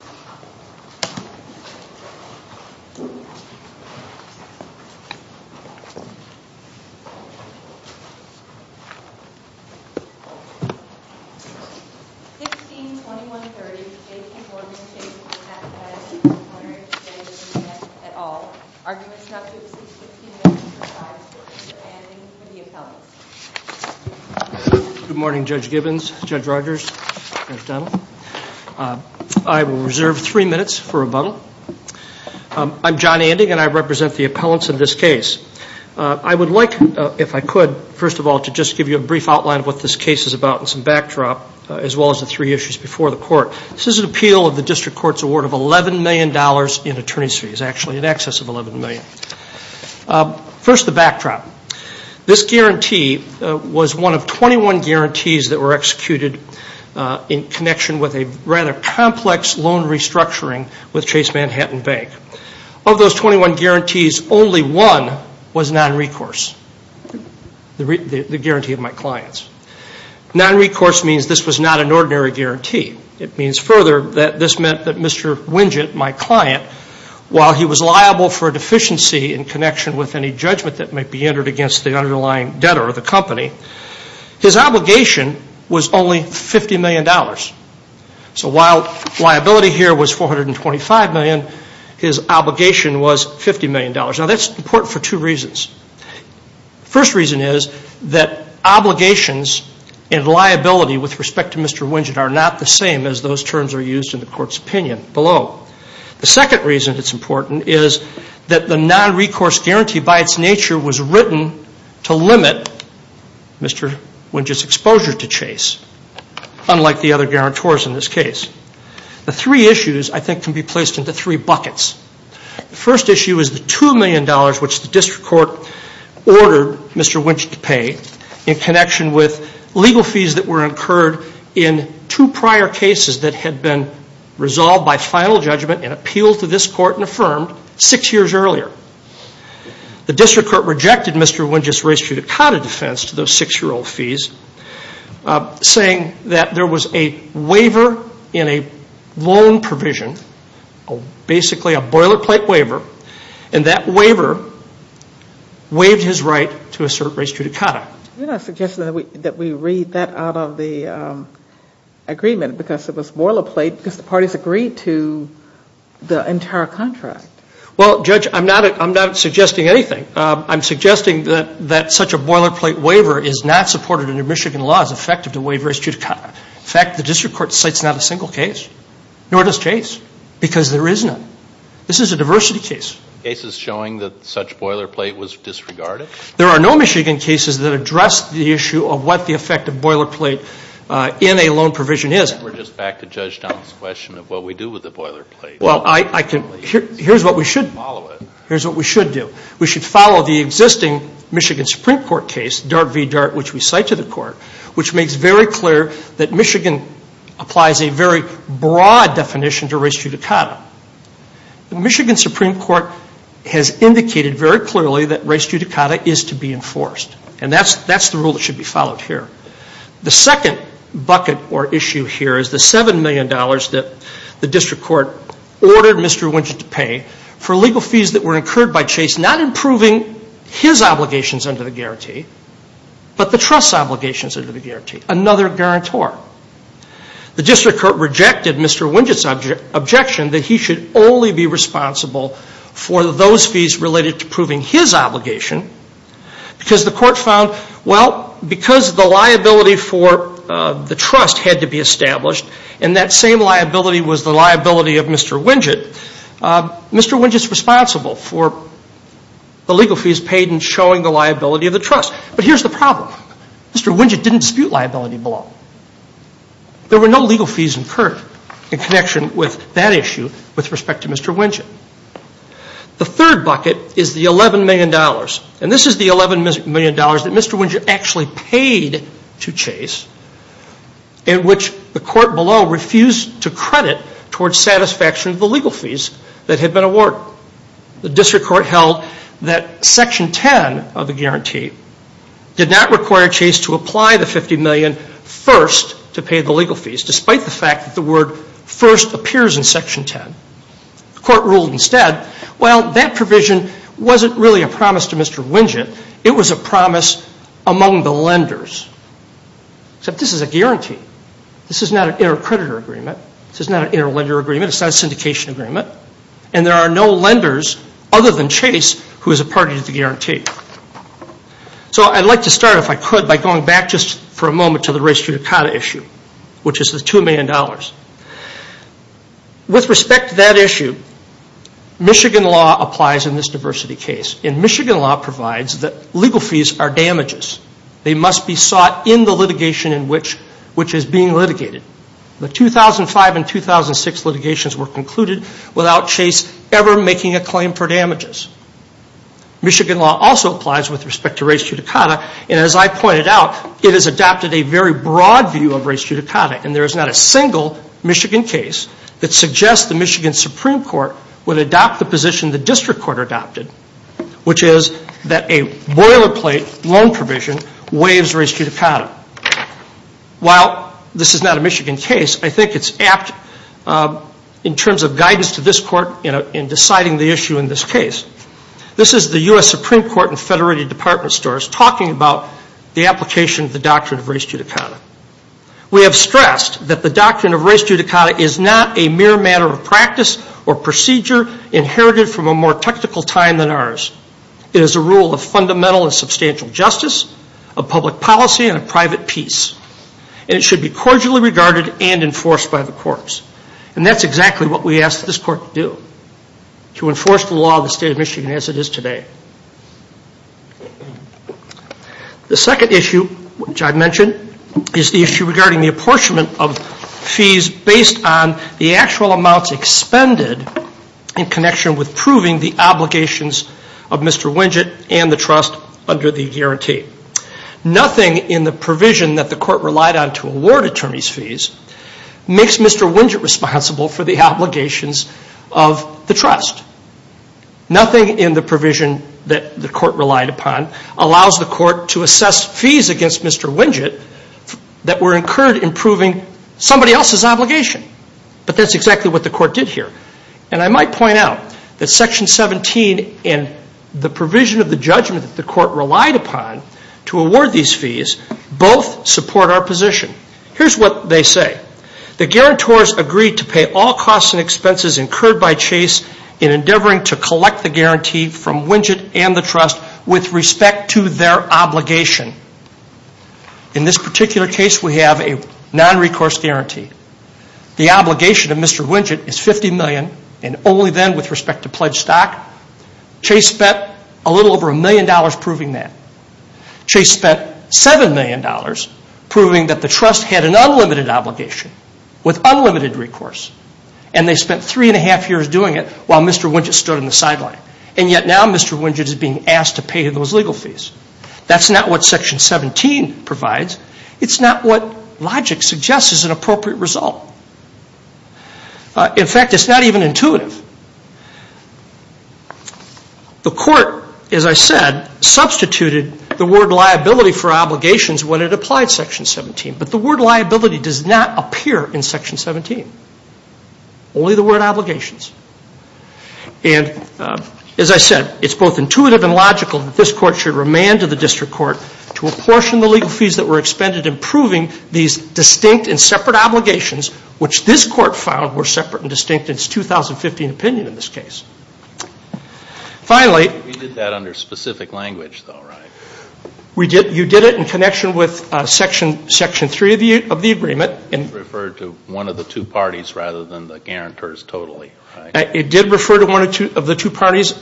162130, J.P. Morgan Chase Manhattan Bank v. Larry Winget, et al. Arguments not suitable for 1625, Mr. Andy, for the appellate. Good morning Judge Gibbons, Judge Rogers, Judge Dunlap. I will reserve three minutes for rebuttal. I'm John Anding and I represent the appellants in this case. I would like, if I could, first of all, to just give you a brief outline of what this case is about and some backdrop as well as the three issues before the court. This is an appeal of the district court's award of $11 million in attorney's fees, actually in excess of $11 million. First, the backdrop. This guarantee was one of 21 guarantees that were executed in connection with a rather complex loan restructuring with Chase Manhattan Bank. Of those 21 guarantees, only one was non-recourse, the guarantee of my clients. Non-recourse means this was not an ordinary guarantee. It means further that this meant that Mr. Winget, my client, while he was liable for a deficiency in connection with any judgment that might be entered against the underlying debtor of the company, his obligation was only $50 million. So while liability here was $425 million, his obligation was $50 million. Now that's important for two reasons. First reason is that obligations and liability with respect to Mr. Winget are not the same as those terms are used in the court's opinion below. The second reason it's important is that the non-recourse guarantee by its nature was written to limit Mr. Winget's exposure to Chase, unlike the other guarantors in this case. The three issues, I think, can be placed into three buckets. The first issue is the $2 million which the district court ordered Mr. Winget to pay in connection with legal fees that were incurred in two prior cases that had been resolved by final judgment and appealed to this court and affirmed six years earlier. The district court rejected Mr. Winget's res judicata defense to those six-year-old fees, saying that there was a waiver in a loan provision, basically a boilerplate waiver, and that waiver waived his right to assert res judicata. Yeah. You're not suggesting that we read that out of the agreement because it was boilerplate because the parties agreed to the entire contract. Well, Judge, I'm not suggesting anything. I'm suggesting that such a boilerplate waiver is not supported under Michigan law. It's effective to waive res judicata. In fact, the district court cites not a single case, nor does Chase, because there is none. This is a diversity case. Cases showing that such boilerplate was disregarded? There are no Michigan cases that address the issue of what the effect of boilerplate in a loan provision is. We're just back to Judge Dunn's question of what we do with the boilerplate. Well, here's what we should do. We should follow the existing Michigan Supreme Court case, Dart v. Dart, which we cite to the court, which makes very clear that Michigan applies a very broad definition to res judicata. The Michigan Supreme Court has indicated very clearly that res judicata is to be enforced, and that's the rule that should be followed here. The second bucket or issue here is the $7 million that the district court ordered Mr. Winchett to pay for legal fees that were incurred by Chase, not improving his obligations under the guarantee, but the trust's obligations under the guarantee, another guarantor. The district court rejected Mr. Winchett's objection that he should only be responsible for those fees related to proving his obligation because the court found, well, because the liability for the trust had to be established, and that same liability was the liability of Mr. Winchett, Mr. Winchett's responsible for the legal fees paid and showing the liability of the trust. But here's the problem. Mr. Winchett didn't dispute liability below. There were no legal fees incurred in connection with that issue with respect to Mr. Winchett. The third bucket is the $11 million, and this is the $11 million that Mr. Winchett actually paid to Chase in which the court below refused to credit towards satisfaction of the legal fees that had been awarded. The district court held that Section 10 of the guarantee did not require Chase to apply the $50 million first to pay the legal fees despite the fact that the word first appears in Section 10. The court ruled instead, well, that provision wasn't really a promise to Mr. Winchett. It was a promise among the lenders, except this is a guarantee. This is not an intercreditor agreement. This is not an interlender agreement. It's not a syndication agreement. And there are no lenders other than Chase who is a party to the guarantee. So I'd like to start, if I could, by going back just for a moment to the race-judicata issue, which is the $2 million. With respect to that issue, Michigan law applies in this diversity case, and Michigan law provides that legal fees are damages. They must be sought in the litigation in which is being litigated. The 2005 and 2006 litigations were concluded without Chase ever making a claim for damages. Michigan law also applies with respect to race-judicata, and as I pointed out, it has adopted a very broad view of race-judicata, and there is not a single Michigan case that suggests the Michigan Supreme Court would adopt the position the district court adopted, which is that a boilerplate loan provision waives race-judicata. While this is not a Michigan case, I think it's apt in terms of guidance to this court in deciding the issue in this case. This is the U.S. Supreme Court and federated department stores talking about the application of the doctrine of race-judicata. We have stressed that the doctrine of race-judicata is not a mere matter of practice or procedure inherited from a more technical time than ours. It is a rule of fundamental and substantial justice, of public policy, and of private peace, and it should be cordially regarded and enforced by the courts, and that's exactly what we asked this court to do, to enforce the law of the state of Michigan as it is today. The second issue, which I mentioned, is the issue regarding the apportionment of fees based on the actual amounts expended in connection with proving the obligations of Mr. Winget and the trust under the guarantee. Nothing in the provision that the court relied on to award attorneys' fees makes Mr. Winget responsible for the obligations of the trust. Nothing in the provision that the court relied upon allows the court to assess fees against Mr. Winget that were incurred in proving somebody else's obligation. But that's exactly what the court did here, and I might point out that Section 17 and the provision of the judgment that the court relied upon to award these fees both support our position. Here's what they say. The guarantors agreed to pay all costs and expenses incurred by Chase in endeavoring to collect the guarantee from Winget and the trust with respect to their obligation. In this particular case, we have a non-recourse guarantee. The obligation of Mr. Winget is $50 million, and only then, with respect to pledged stock, Chase spent a little over a million dollars proving that. Chase spent $7 million proving that the trust had an unlimited obligation with unlimited recourse, and they spent three and a half years doing it while Mr. Winget stood on the sideline. And yet now Mr. Winget is being asked to pay those legal fees. That's not what Section 17 provides. It's not what logic suggests is an appropriate result. In fact, it's not even intuitive. The court, as I said, substituted the word liability for obligations when it applied Section 17, but the word liability does not appear in Section 17, only the word obligations. And as I said, it's both intuitive and logical that this court should remand to the district court to apportion the legal fees that were expended in proving these distinct and separate obligations, which this court found were separate and distinct in its 2015 opinion in this case. Finally... We did that under specific language, though, right? You did it in connection with Section 3 of the agreement. It referred to one of the two parties rather than the guarantors totally, right? It did refer to one of the two parties.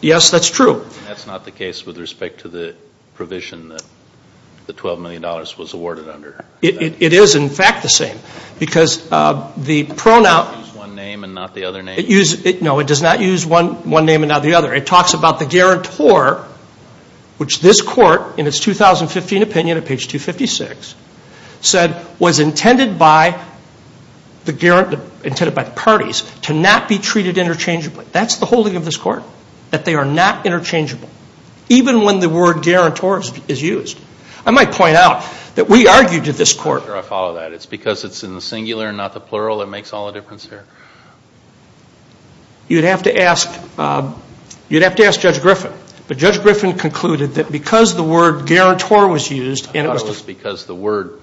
Yes, that's true. That's not the case with respect to the provision that the $12 million was awarded under. It is, in fact, the same. Because the pronoun... It uses one name and not the other name. No, it does not use one name and not the other. It talks about the guarantor, which this court, in its 2015 opinion at page 256, said was intended by the parties to not be treated interchangeably. That's the holding of this court, that they are not interchangeable, even when the word guarantor is used. I might point out that we argued to this court... Can I follow that? It's because it's in the singular and not the plural that makes all the difference here? You'd have to ask Judge Griffin. But Judge Griffin concluded that because the word guarantor was used... I thought it was because the word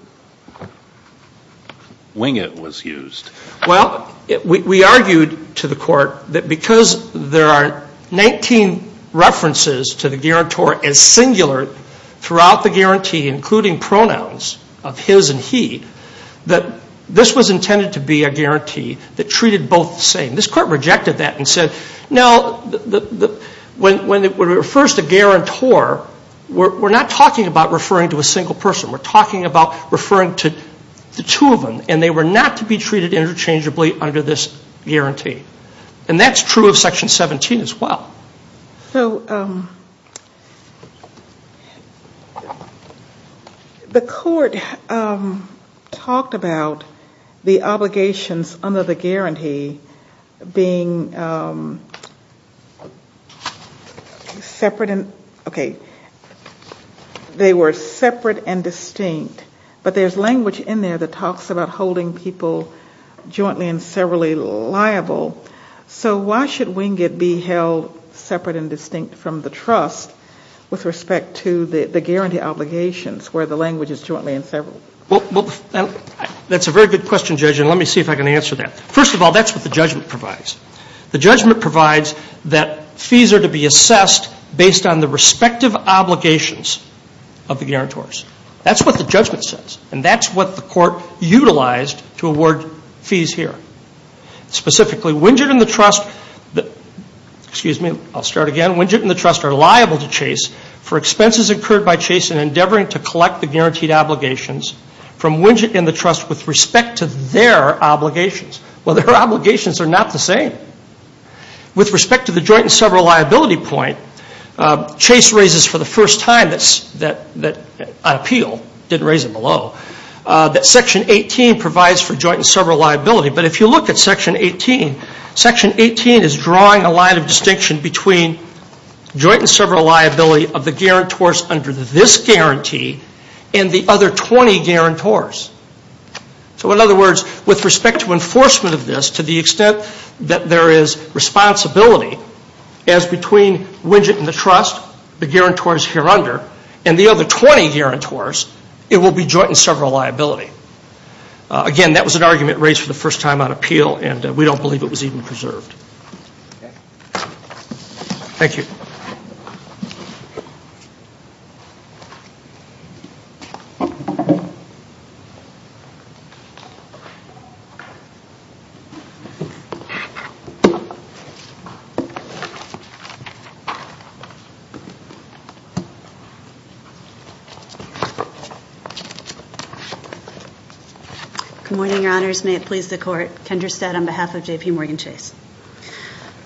winget was used. Well, we argued to the court that because there are 19 references to the guarantor in singular throughout the guarantee, including pronouns of his and he, that this was intended to be a guarantee that treated both the same. This court rejected that and said, no, when it refers to guarantor, we're not talking about referring to a single person. We're talking about referring to the two of them, and they were not to be treated interchangeably under this guarantee. And that's true of Section 17 as well. So the court talked about the obligations under the guarantee being separate... Okay. They were separate and distinct. But there's language in there that talks about holding people jointly and severally liable. So why should winget be held separate and distinct from the trust with respect to the guarantee obligations where the language is jointly and severally? Well, that's a very good question, Judge, and let me see if I can answer that. First of all, that's what the judgment provides. The judgment provides that fees are to be assessed based on the respective obligations of the guarantors. That's what the judgment says, and that's what the court utilized to award fees here. Specifically, winget and the trust are liable to Chase for expenses incurred by Chase in endeavoring to collect the guaranteed obligations from winget and the trust with respect to their obligations. Well, their obligations are not the same. With respect to the joint and several liability point, Chase raises for the first time that I appeal, didn't raise it below, that Section 18 provides for joint and several liability. But if you look at Section 18, Section 18 is drawing a line of distinction between joint and several liability of the guarantors under this guarantee and the other 20 guarantors. So in other words, with respect to enforcement of this, to the extent that there is responsibility as between winget and the trust, the guarantors here under, and the other 20 guarantors, it will be joint and several liability. Again, that was an argument raised for the first time on appeal, and we don't believe it was even preserved. Thank you. Good morning, Your Honors. I'm Kendra Stead on behalf of J.P. Morgan Chase.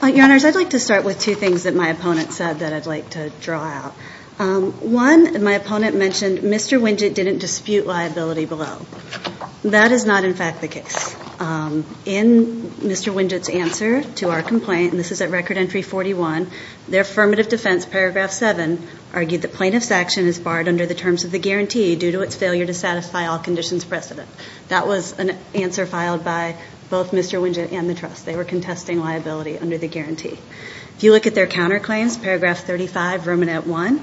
Your Honors, I'd like to start with two things that my opponent said that I'd like to draw out. One, my opponent mentioned Mr. Winget didn't dispute liability below. That is not, in fact, the case. In Mr. Winget's answer to our complaint, and this is at Record Entry 41, their affirmative defense, Paragraph 7, argued that plaintiff's action is barred under the terms of the guarantee due to its failure to satisfy all conditions precedent. That was an answer filed by both Mr. Winget and the trust. They were contesting liability under the guarantee. If you look at their counterclaims, Paragraph 35, Vermin Act 1,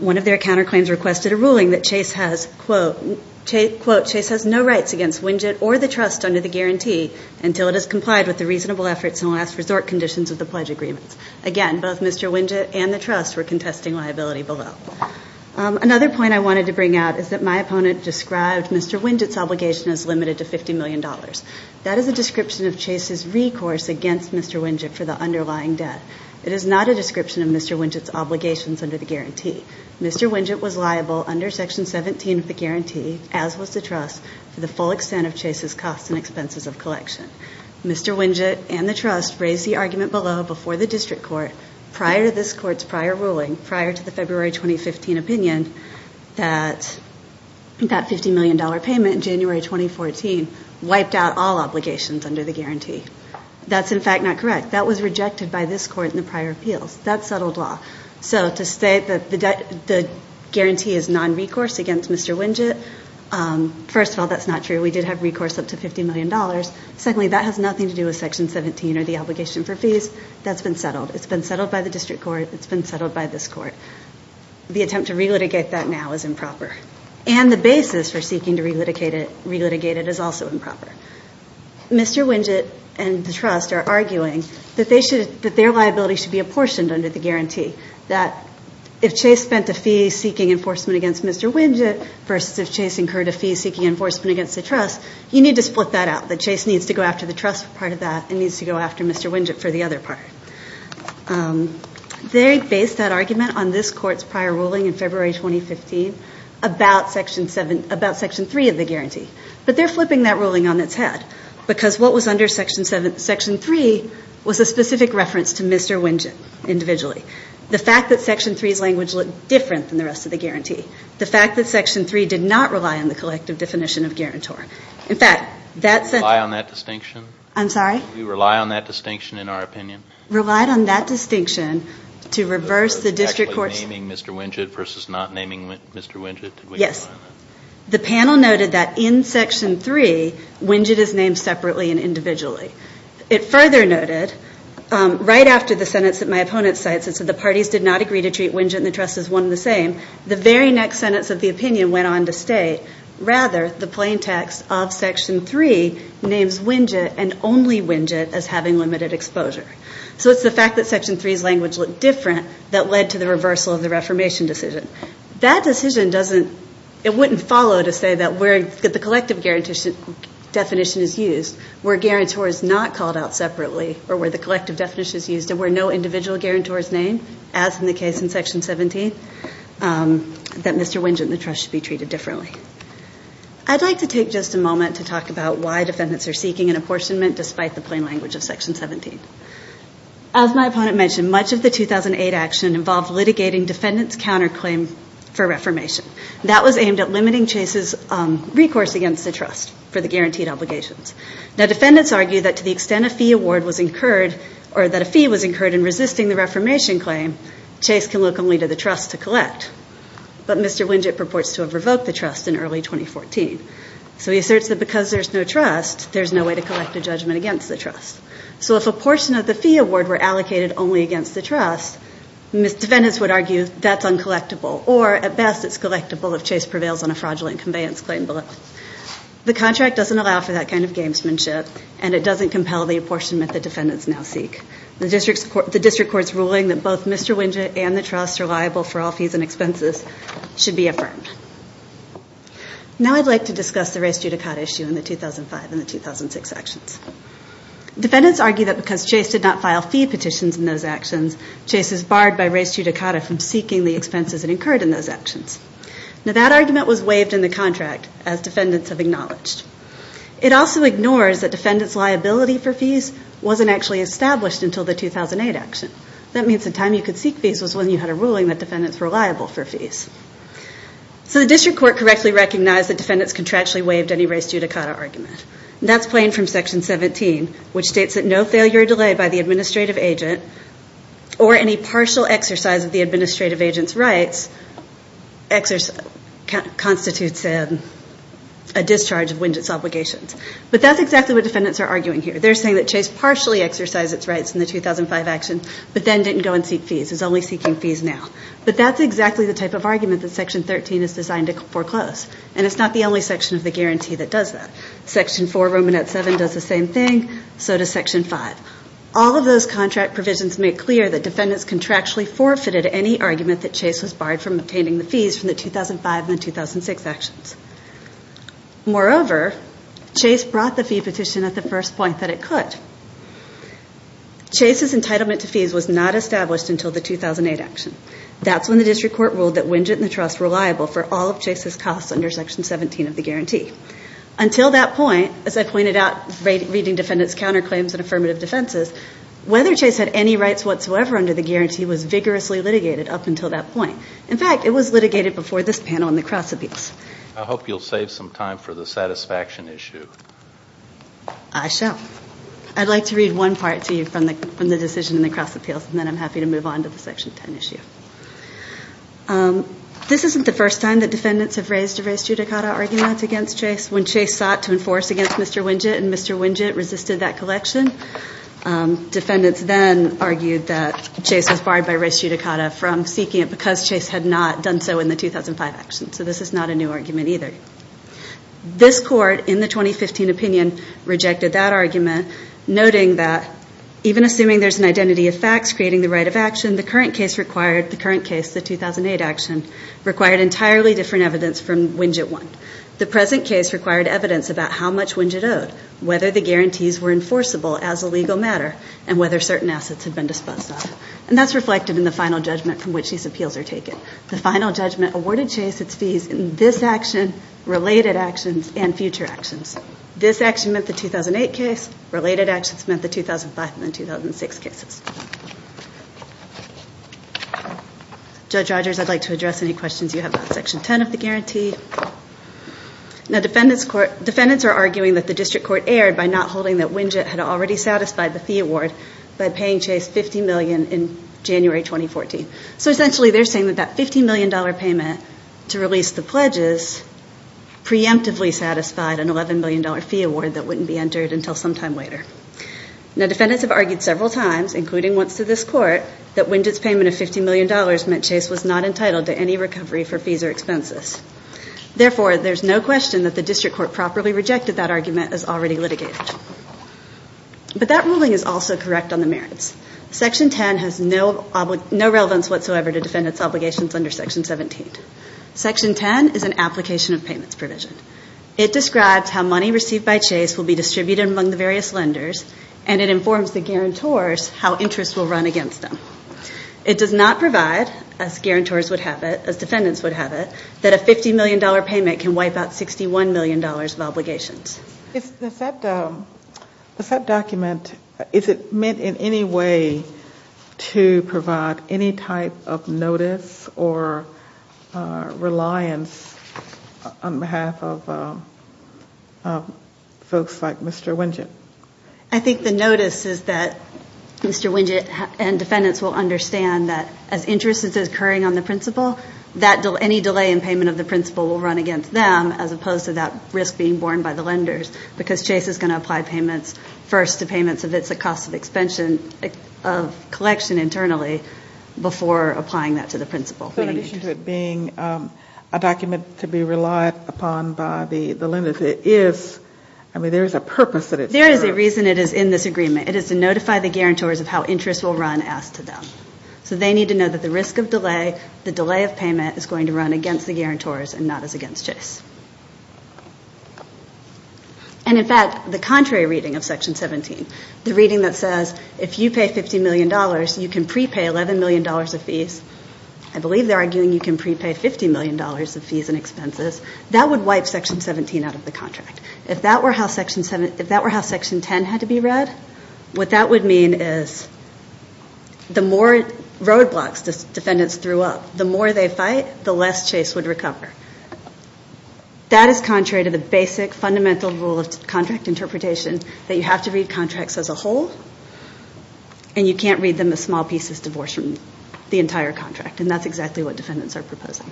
one of their counterclaims requested a ruling that Chase has, quote, Chase has no rights against Winget or the trust under the guarantee until it has complied with the reasonable efforts and last resort conditions of the pledge agreements. Again, both Mr. Winget and the trust were contesting liability below. Another point I wanted to bring out is that my opponent described Mr. Winget's obligation as limited to $50 million. That is a description of Chase's recourse against Mr. Winget for the underlying debt. It is not a description of Mr. Winget's obligations under the guarantee. Mr. Winget was liable under Section 17 of the guarantee, as was the trust, for the full extent of Chase's costs and expenses of collection. Mr. Winget and the trust raised the argument below before the district court prior to this court's prior ruling, prior to the February 2015 opinion, that that $50 million payment in January 2014 wiped out all obligations under the guarantee. That's, in fact, not correct. That was rejected by this court in the prior appeals. That's settled law. So to state that the guarantee is non-recourse against Mr. Winget, first of all, that's not true. We did have recourse up to $50 million. Secondly, that has nothing to do with Section 17 or the obligation for fees. That's been settled. It's been settled by the district court. It's been settled by this court. The attempt to relitigate that now is improper. And the basis for seeking to relitigate it is also improper. Mr. Winget and the trust are arguing that their liability should be apportioned under the guarantee, that if Chase spent a fee seeking enforcement against Mr. Winget versus if Chase incurred a fee seeking enforcement against the trust, you need to split that out, that Chase needs to go after the trust part of that and needs to go after Mr. Winget for the other part. They based that argument on this court's prior ruling in February 2015 about Section 3 of the guarantee. But they're flipping that ruling on its head because what was under Section 3 was a specific reference to Mr. Winget individually. The fact that Section 3's language looked different than the rest of the guarantee, the fact that Section 3 did not rely on the collective definition of guarantor. In fact, that's a... Do you rely on that distinction? I'm sorry? Do you rely on that distinction in our opinion? Relied on that distinction to reverse the district court's... Was it actually naming Mr. Winget versus not naming Mr. Winget? Yes. The panel noted that in Section 3, Winget is named separately and individually. It further noted, right after the sentence that my opponent cites, it said the parties did not agree to treat Winget and the trust as one and the same, the very next sentence of the opinion went on to state, rather the plain text of Section 3 names Winget and only Winget as having limited exposure. So it's the fact that Section 3's language looked different that led to the reversal of the reformation decision. That decision doesn't... It wouldn't follow to say that where the collective definition is used, where guarantor is not called out separately, or where the collective definition is used and where no individual guarantor is named, as in the case in Section 17, that Mr. Winget and the trust should be treated differently. I'd like to take just a moment to talk about why defendants are seeking an apportionment despite the plain language of Section 17. As my opponent mentioned, much of the 2008 action involved litigating defendants' counterclaim for reformation. That was aimed at limiting Chase's recourse against the trust for the guaranteed obligations. Now defendants argue that to the extent a fee award was incurred, or that a fee was incurred in resisting the reformation claim, Chase can look only to the trust to collect. But Mr. Winget purports to have revoked the trust in early 2014. So he asserts that because there's no trust, there's no way to collect a judgment against the trust. So if a portion of the fee award were allocated only against the trust, defendants would argue that's uncollectible, or at best it's collectible if Chase prevails on a fraudulent conveyance claim below. The contract doesn't allow for that kind of gamesmanship, and it doesn't compel the apportionment the defendants now seek. The district court's ruling that both Mr. Winget and the trust are liable for all fees and expenses should be affirmed. Now I'd like to discuss the res judicata issue in the 2005 and the 2006 actions. Defendants argue that because Chase did not file fee petitions in those actions, Chase is barred by res judicata from seeking the expenses it incurred in those actions. Now that argument was waived in the contract, as defendants have acknowledged. It also ignores that defendants' liability for fees wasn't actually established until the 2008 action. That means the time you could seek fees was when you had a ruling that defendants were liable for fees. So the district court correctly recognized that defendants contractually waived any res judicata argument. That's plain from Section 17, which states that no failure delayed by the administrative agent or any partial exercise of the administrative agent's rights constitutes a discharge of Winget's obligations. But that's exactly what defendants are arguing here. They're saying that Chase partially exercised its rights in the 2005 action, but then didn't go and seek fees. It's only seeking fees now. But that's exactly the type of argument that Section 13 is designed to foreclose, and it's not the only section of the guarantee that does that. Section 4, Romanet 7, does the same thing. So does Section 5. All of those contract provisions make clear that defendants contractually forfeited any argument that Chase was barred from obtaining the fees from the 2005 and 2006 actions. Moreover, Chase brought the fee petition at the first point that it could. Chase's entitlement to fees was not established until the 2008 action. That's when the district court ruled that Winget and the trust were liable for all of Chase's costs under Section 17 of the guarantee. Until that point, as I pointed out reading defendants' counterclaims and affirmative defenses, whether Chase had any rights whatsoever under the guarantee was vigorously litigated up until that point. In fact, it was litigated before this panel in the cross appeals. I hope you'll save some time for the satisfaction issue. I shall. I'd like to read one part to you from the decision in the cross appeals, and then I'm happy to move on to the Section 10 issue. This isn't the first time that defendants have raised a res judicata argument against Chase. When Chase sought to enforce against Mr. Winget and Mr. Winget resisted that collection, defendants then argued that Chase was barred by res judicata from seeking it because Chase had not done so in the 2005 action. So this is not a new argument either. This court in the 2015 opinion rejected that argument, noting that even assuming there's an identity of facts creating the right of action, the current case, the 2008 action, required entirely different evidence from Winget 1. The present case required evidence about how much Winget owed, whether the guarantees were enforceable as a legal matter, and whether certain assets had been disposed of. And that's reflected in the final judgment from which these appeals are taken. The final judgment awarded Chase its fees in this action, related actions, and future actions. This action meant the 2008 case. Related actions meant the 2005 and 2006 cases. Judge Rogers, I'd like to address any questions you have about Section 10 of the guarantee. Now defendants are arguing that the district court erred by not holding that Winget had already satisfied the fee award by paying Chase $50 million in January 2014. So essentially they're saying that that $50 million payment to release the pledges preemptively satisfied an $11 million fee award that wouldn't be entered until some time later. Now defendants have argued several times, including once to this court, that Winget's payment of $50 million meant Chase was not entitled to any recovery for fees or expenses. Therefore, there's no question that the district court properly rejected that argument as already litigated. But that ruling is also correct on the merits. Section 10 has no relevance whatsoever to defendant's obligations under Section 17. Section 10 is an application of payments provision. It describes how money received by Chase will be distributed among the various lenders, and it informs the guarantors how interest will run against them. It does not provide, as guarantors would have it, as defendants would have it, that a $50 million payment can wipe out $61 million of obligations. Is that document, is it meant in any way to provide any type of notice or reliance on behalf of folks like Mr. Winget? I think the notice is that Mr. Winget and defendants will understand that as interest is occurring on the principal, any delay in payment of the principal will run against them, as opposed to that risk being borne by the lenders, because Chase is going to apply payments first to payments if it's a cost of collection internally, before applying that to the principal. So in addition to it being a document to be relied upon by the lenders, it is, I mean, there is a purpose that it serves. There is a reason it is in this agreement. It is to notify the guarantors of how interest will run as to them. So they need to know that the risk of delay, the delay of payment is going to run against the guarantors and not as against Chase. And in fact, the contrary reading of Section 17, the reading that says if you pay $50 million, you can prepay $11 million of fees. I believe they're arguing you can prepay $50 million of fees and expenses. That would wipe Section 17 out of the contract. If that were how Section 10 had to be read, what that would mean is the more roadblocks defendants threw up, the more they fight, the less Chase would recover. That is contrary to the basic fundamental rule of contract interpretation that you have to read contracts as a whole, and you can't read them as small pieces divorced from the entire contract, and that's exactly what defendants are proposing.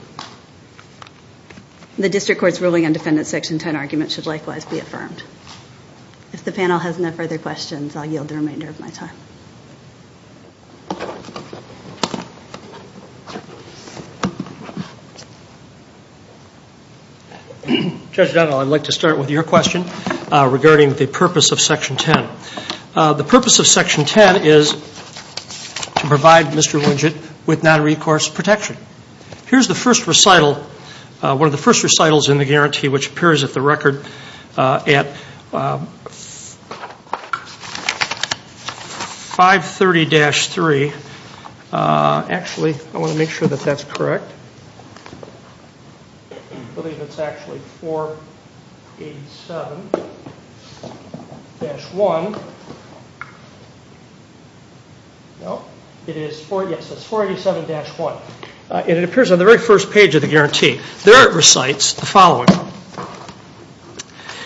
The District Court's ruling on Defendant Section 10 argument should likewise be affirmed. If the panel has no further questions, I'll yield the remainder of my time. Judge Dunnell, I'd like to start with your question regarding the purpose of Section 10. The purpose of Section 10 is to provide Mr. Widget with non-recourse protection. Here's the first recital, one of the first recitals in the guarantee, which appears at the record at 530-3. Actually, I want to make sure that that's correct. I believe it's actually 487-1. No, it is 487-1. It appears on the very first page of the guarantee. There it recites the following.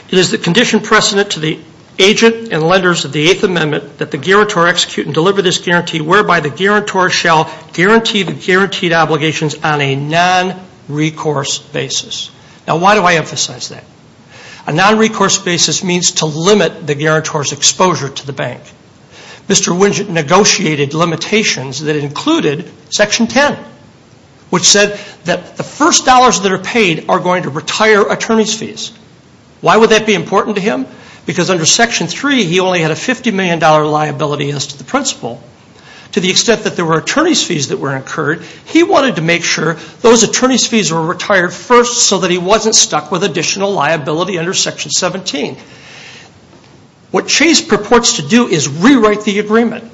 It is the condition precedent to the agent and lenders of the Eighth Amendment that the guarantor execute and deliver this guarantee, whereby the guarantor shall guarantee the guaranteed obligations on a non-recourse basis. Now, why do I emphasize that? A non-recourse basis means to limit the guarantor's exposure to the bank. Mr. Widget negotiated limitations that included Section 10, which said that the first dollars that are paid are going to retire attorney's fees. Why would that be important to him? Because under Section 3, he only had a $50 million liability as to the principal. To the extent that there were attorney's fees that were incurred, he wanted to make sure those attorney's fees were retired first so that he wasn't stuck with additional liability under Section 17. What Chase purports to do is rewrite the agreement.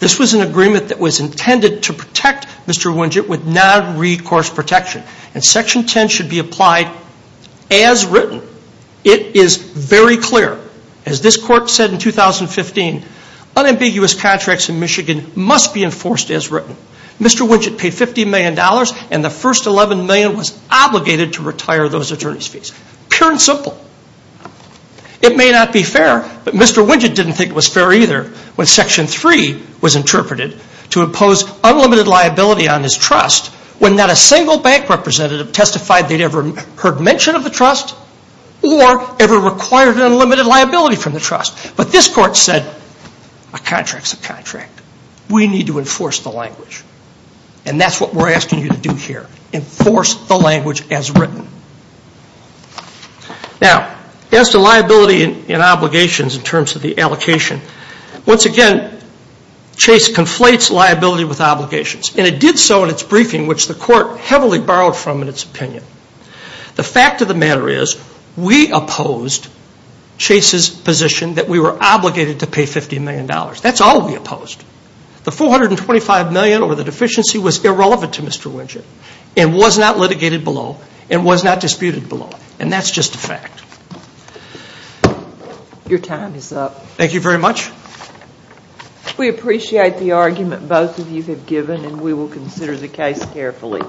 This was an agreement that was intended to protect Mr. Widget with non-recourse protection, and Section 10 should be applied as written. It is very clear. As this court said in 2015, unambiguous contracts in Michigan must be enforced as written. Mr. Widget paid $50 million, and the first $11 million was obligated to retire those attorney's fees. Pure and simple. It may not be fair, but Mr. Widget didn't think it was fair either when Section 3 was interpreted to impose unlimited liability on his trust when not a single bank representative testified they'd ever heard mention of the trust or ever required an unlimited liability from the trust. But this court said, a contract's a contract. We need to enforce the language. And that's what we're asking you to do here. Enforce the language as written. Now, as to liability and obligations in terms of the allocation, once again, Chase conflates liability with obligations. And it did so in its briefing, which the court heavily borrowed from in its opinion. The fact of the matter is, we opposed Chase's position that we were obligated to pay $50 million. That's all we opposed. The $425 million or the deficiency was irrelevant to Mr. Widget and was not litigated below and was not disputed below. And that's just a fact. Your time is up. Thank you very much. We appreciate the argument both of you have given, and we will consider the case carefully.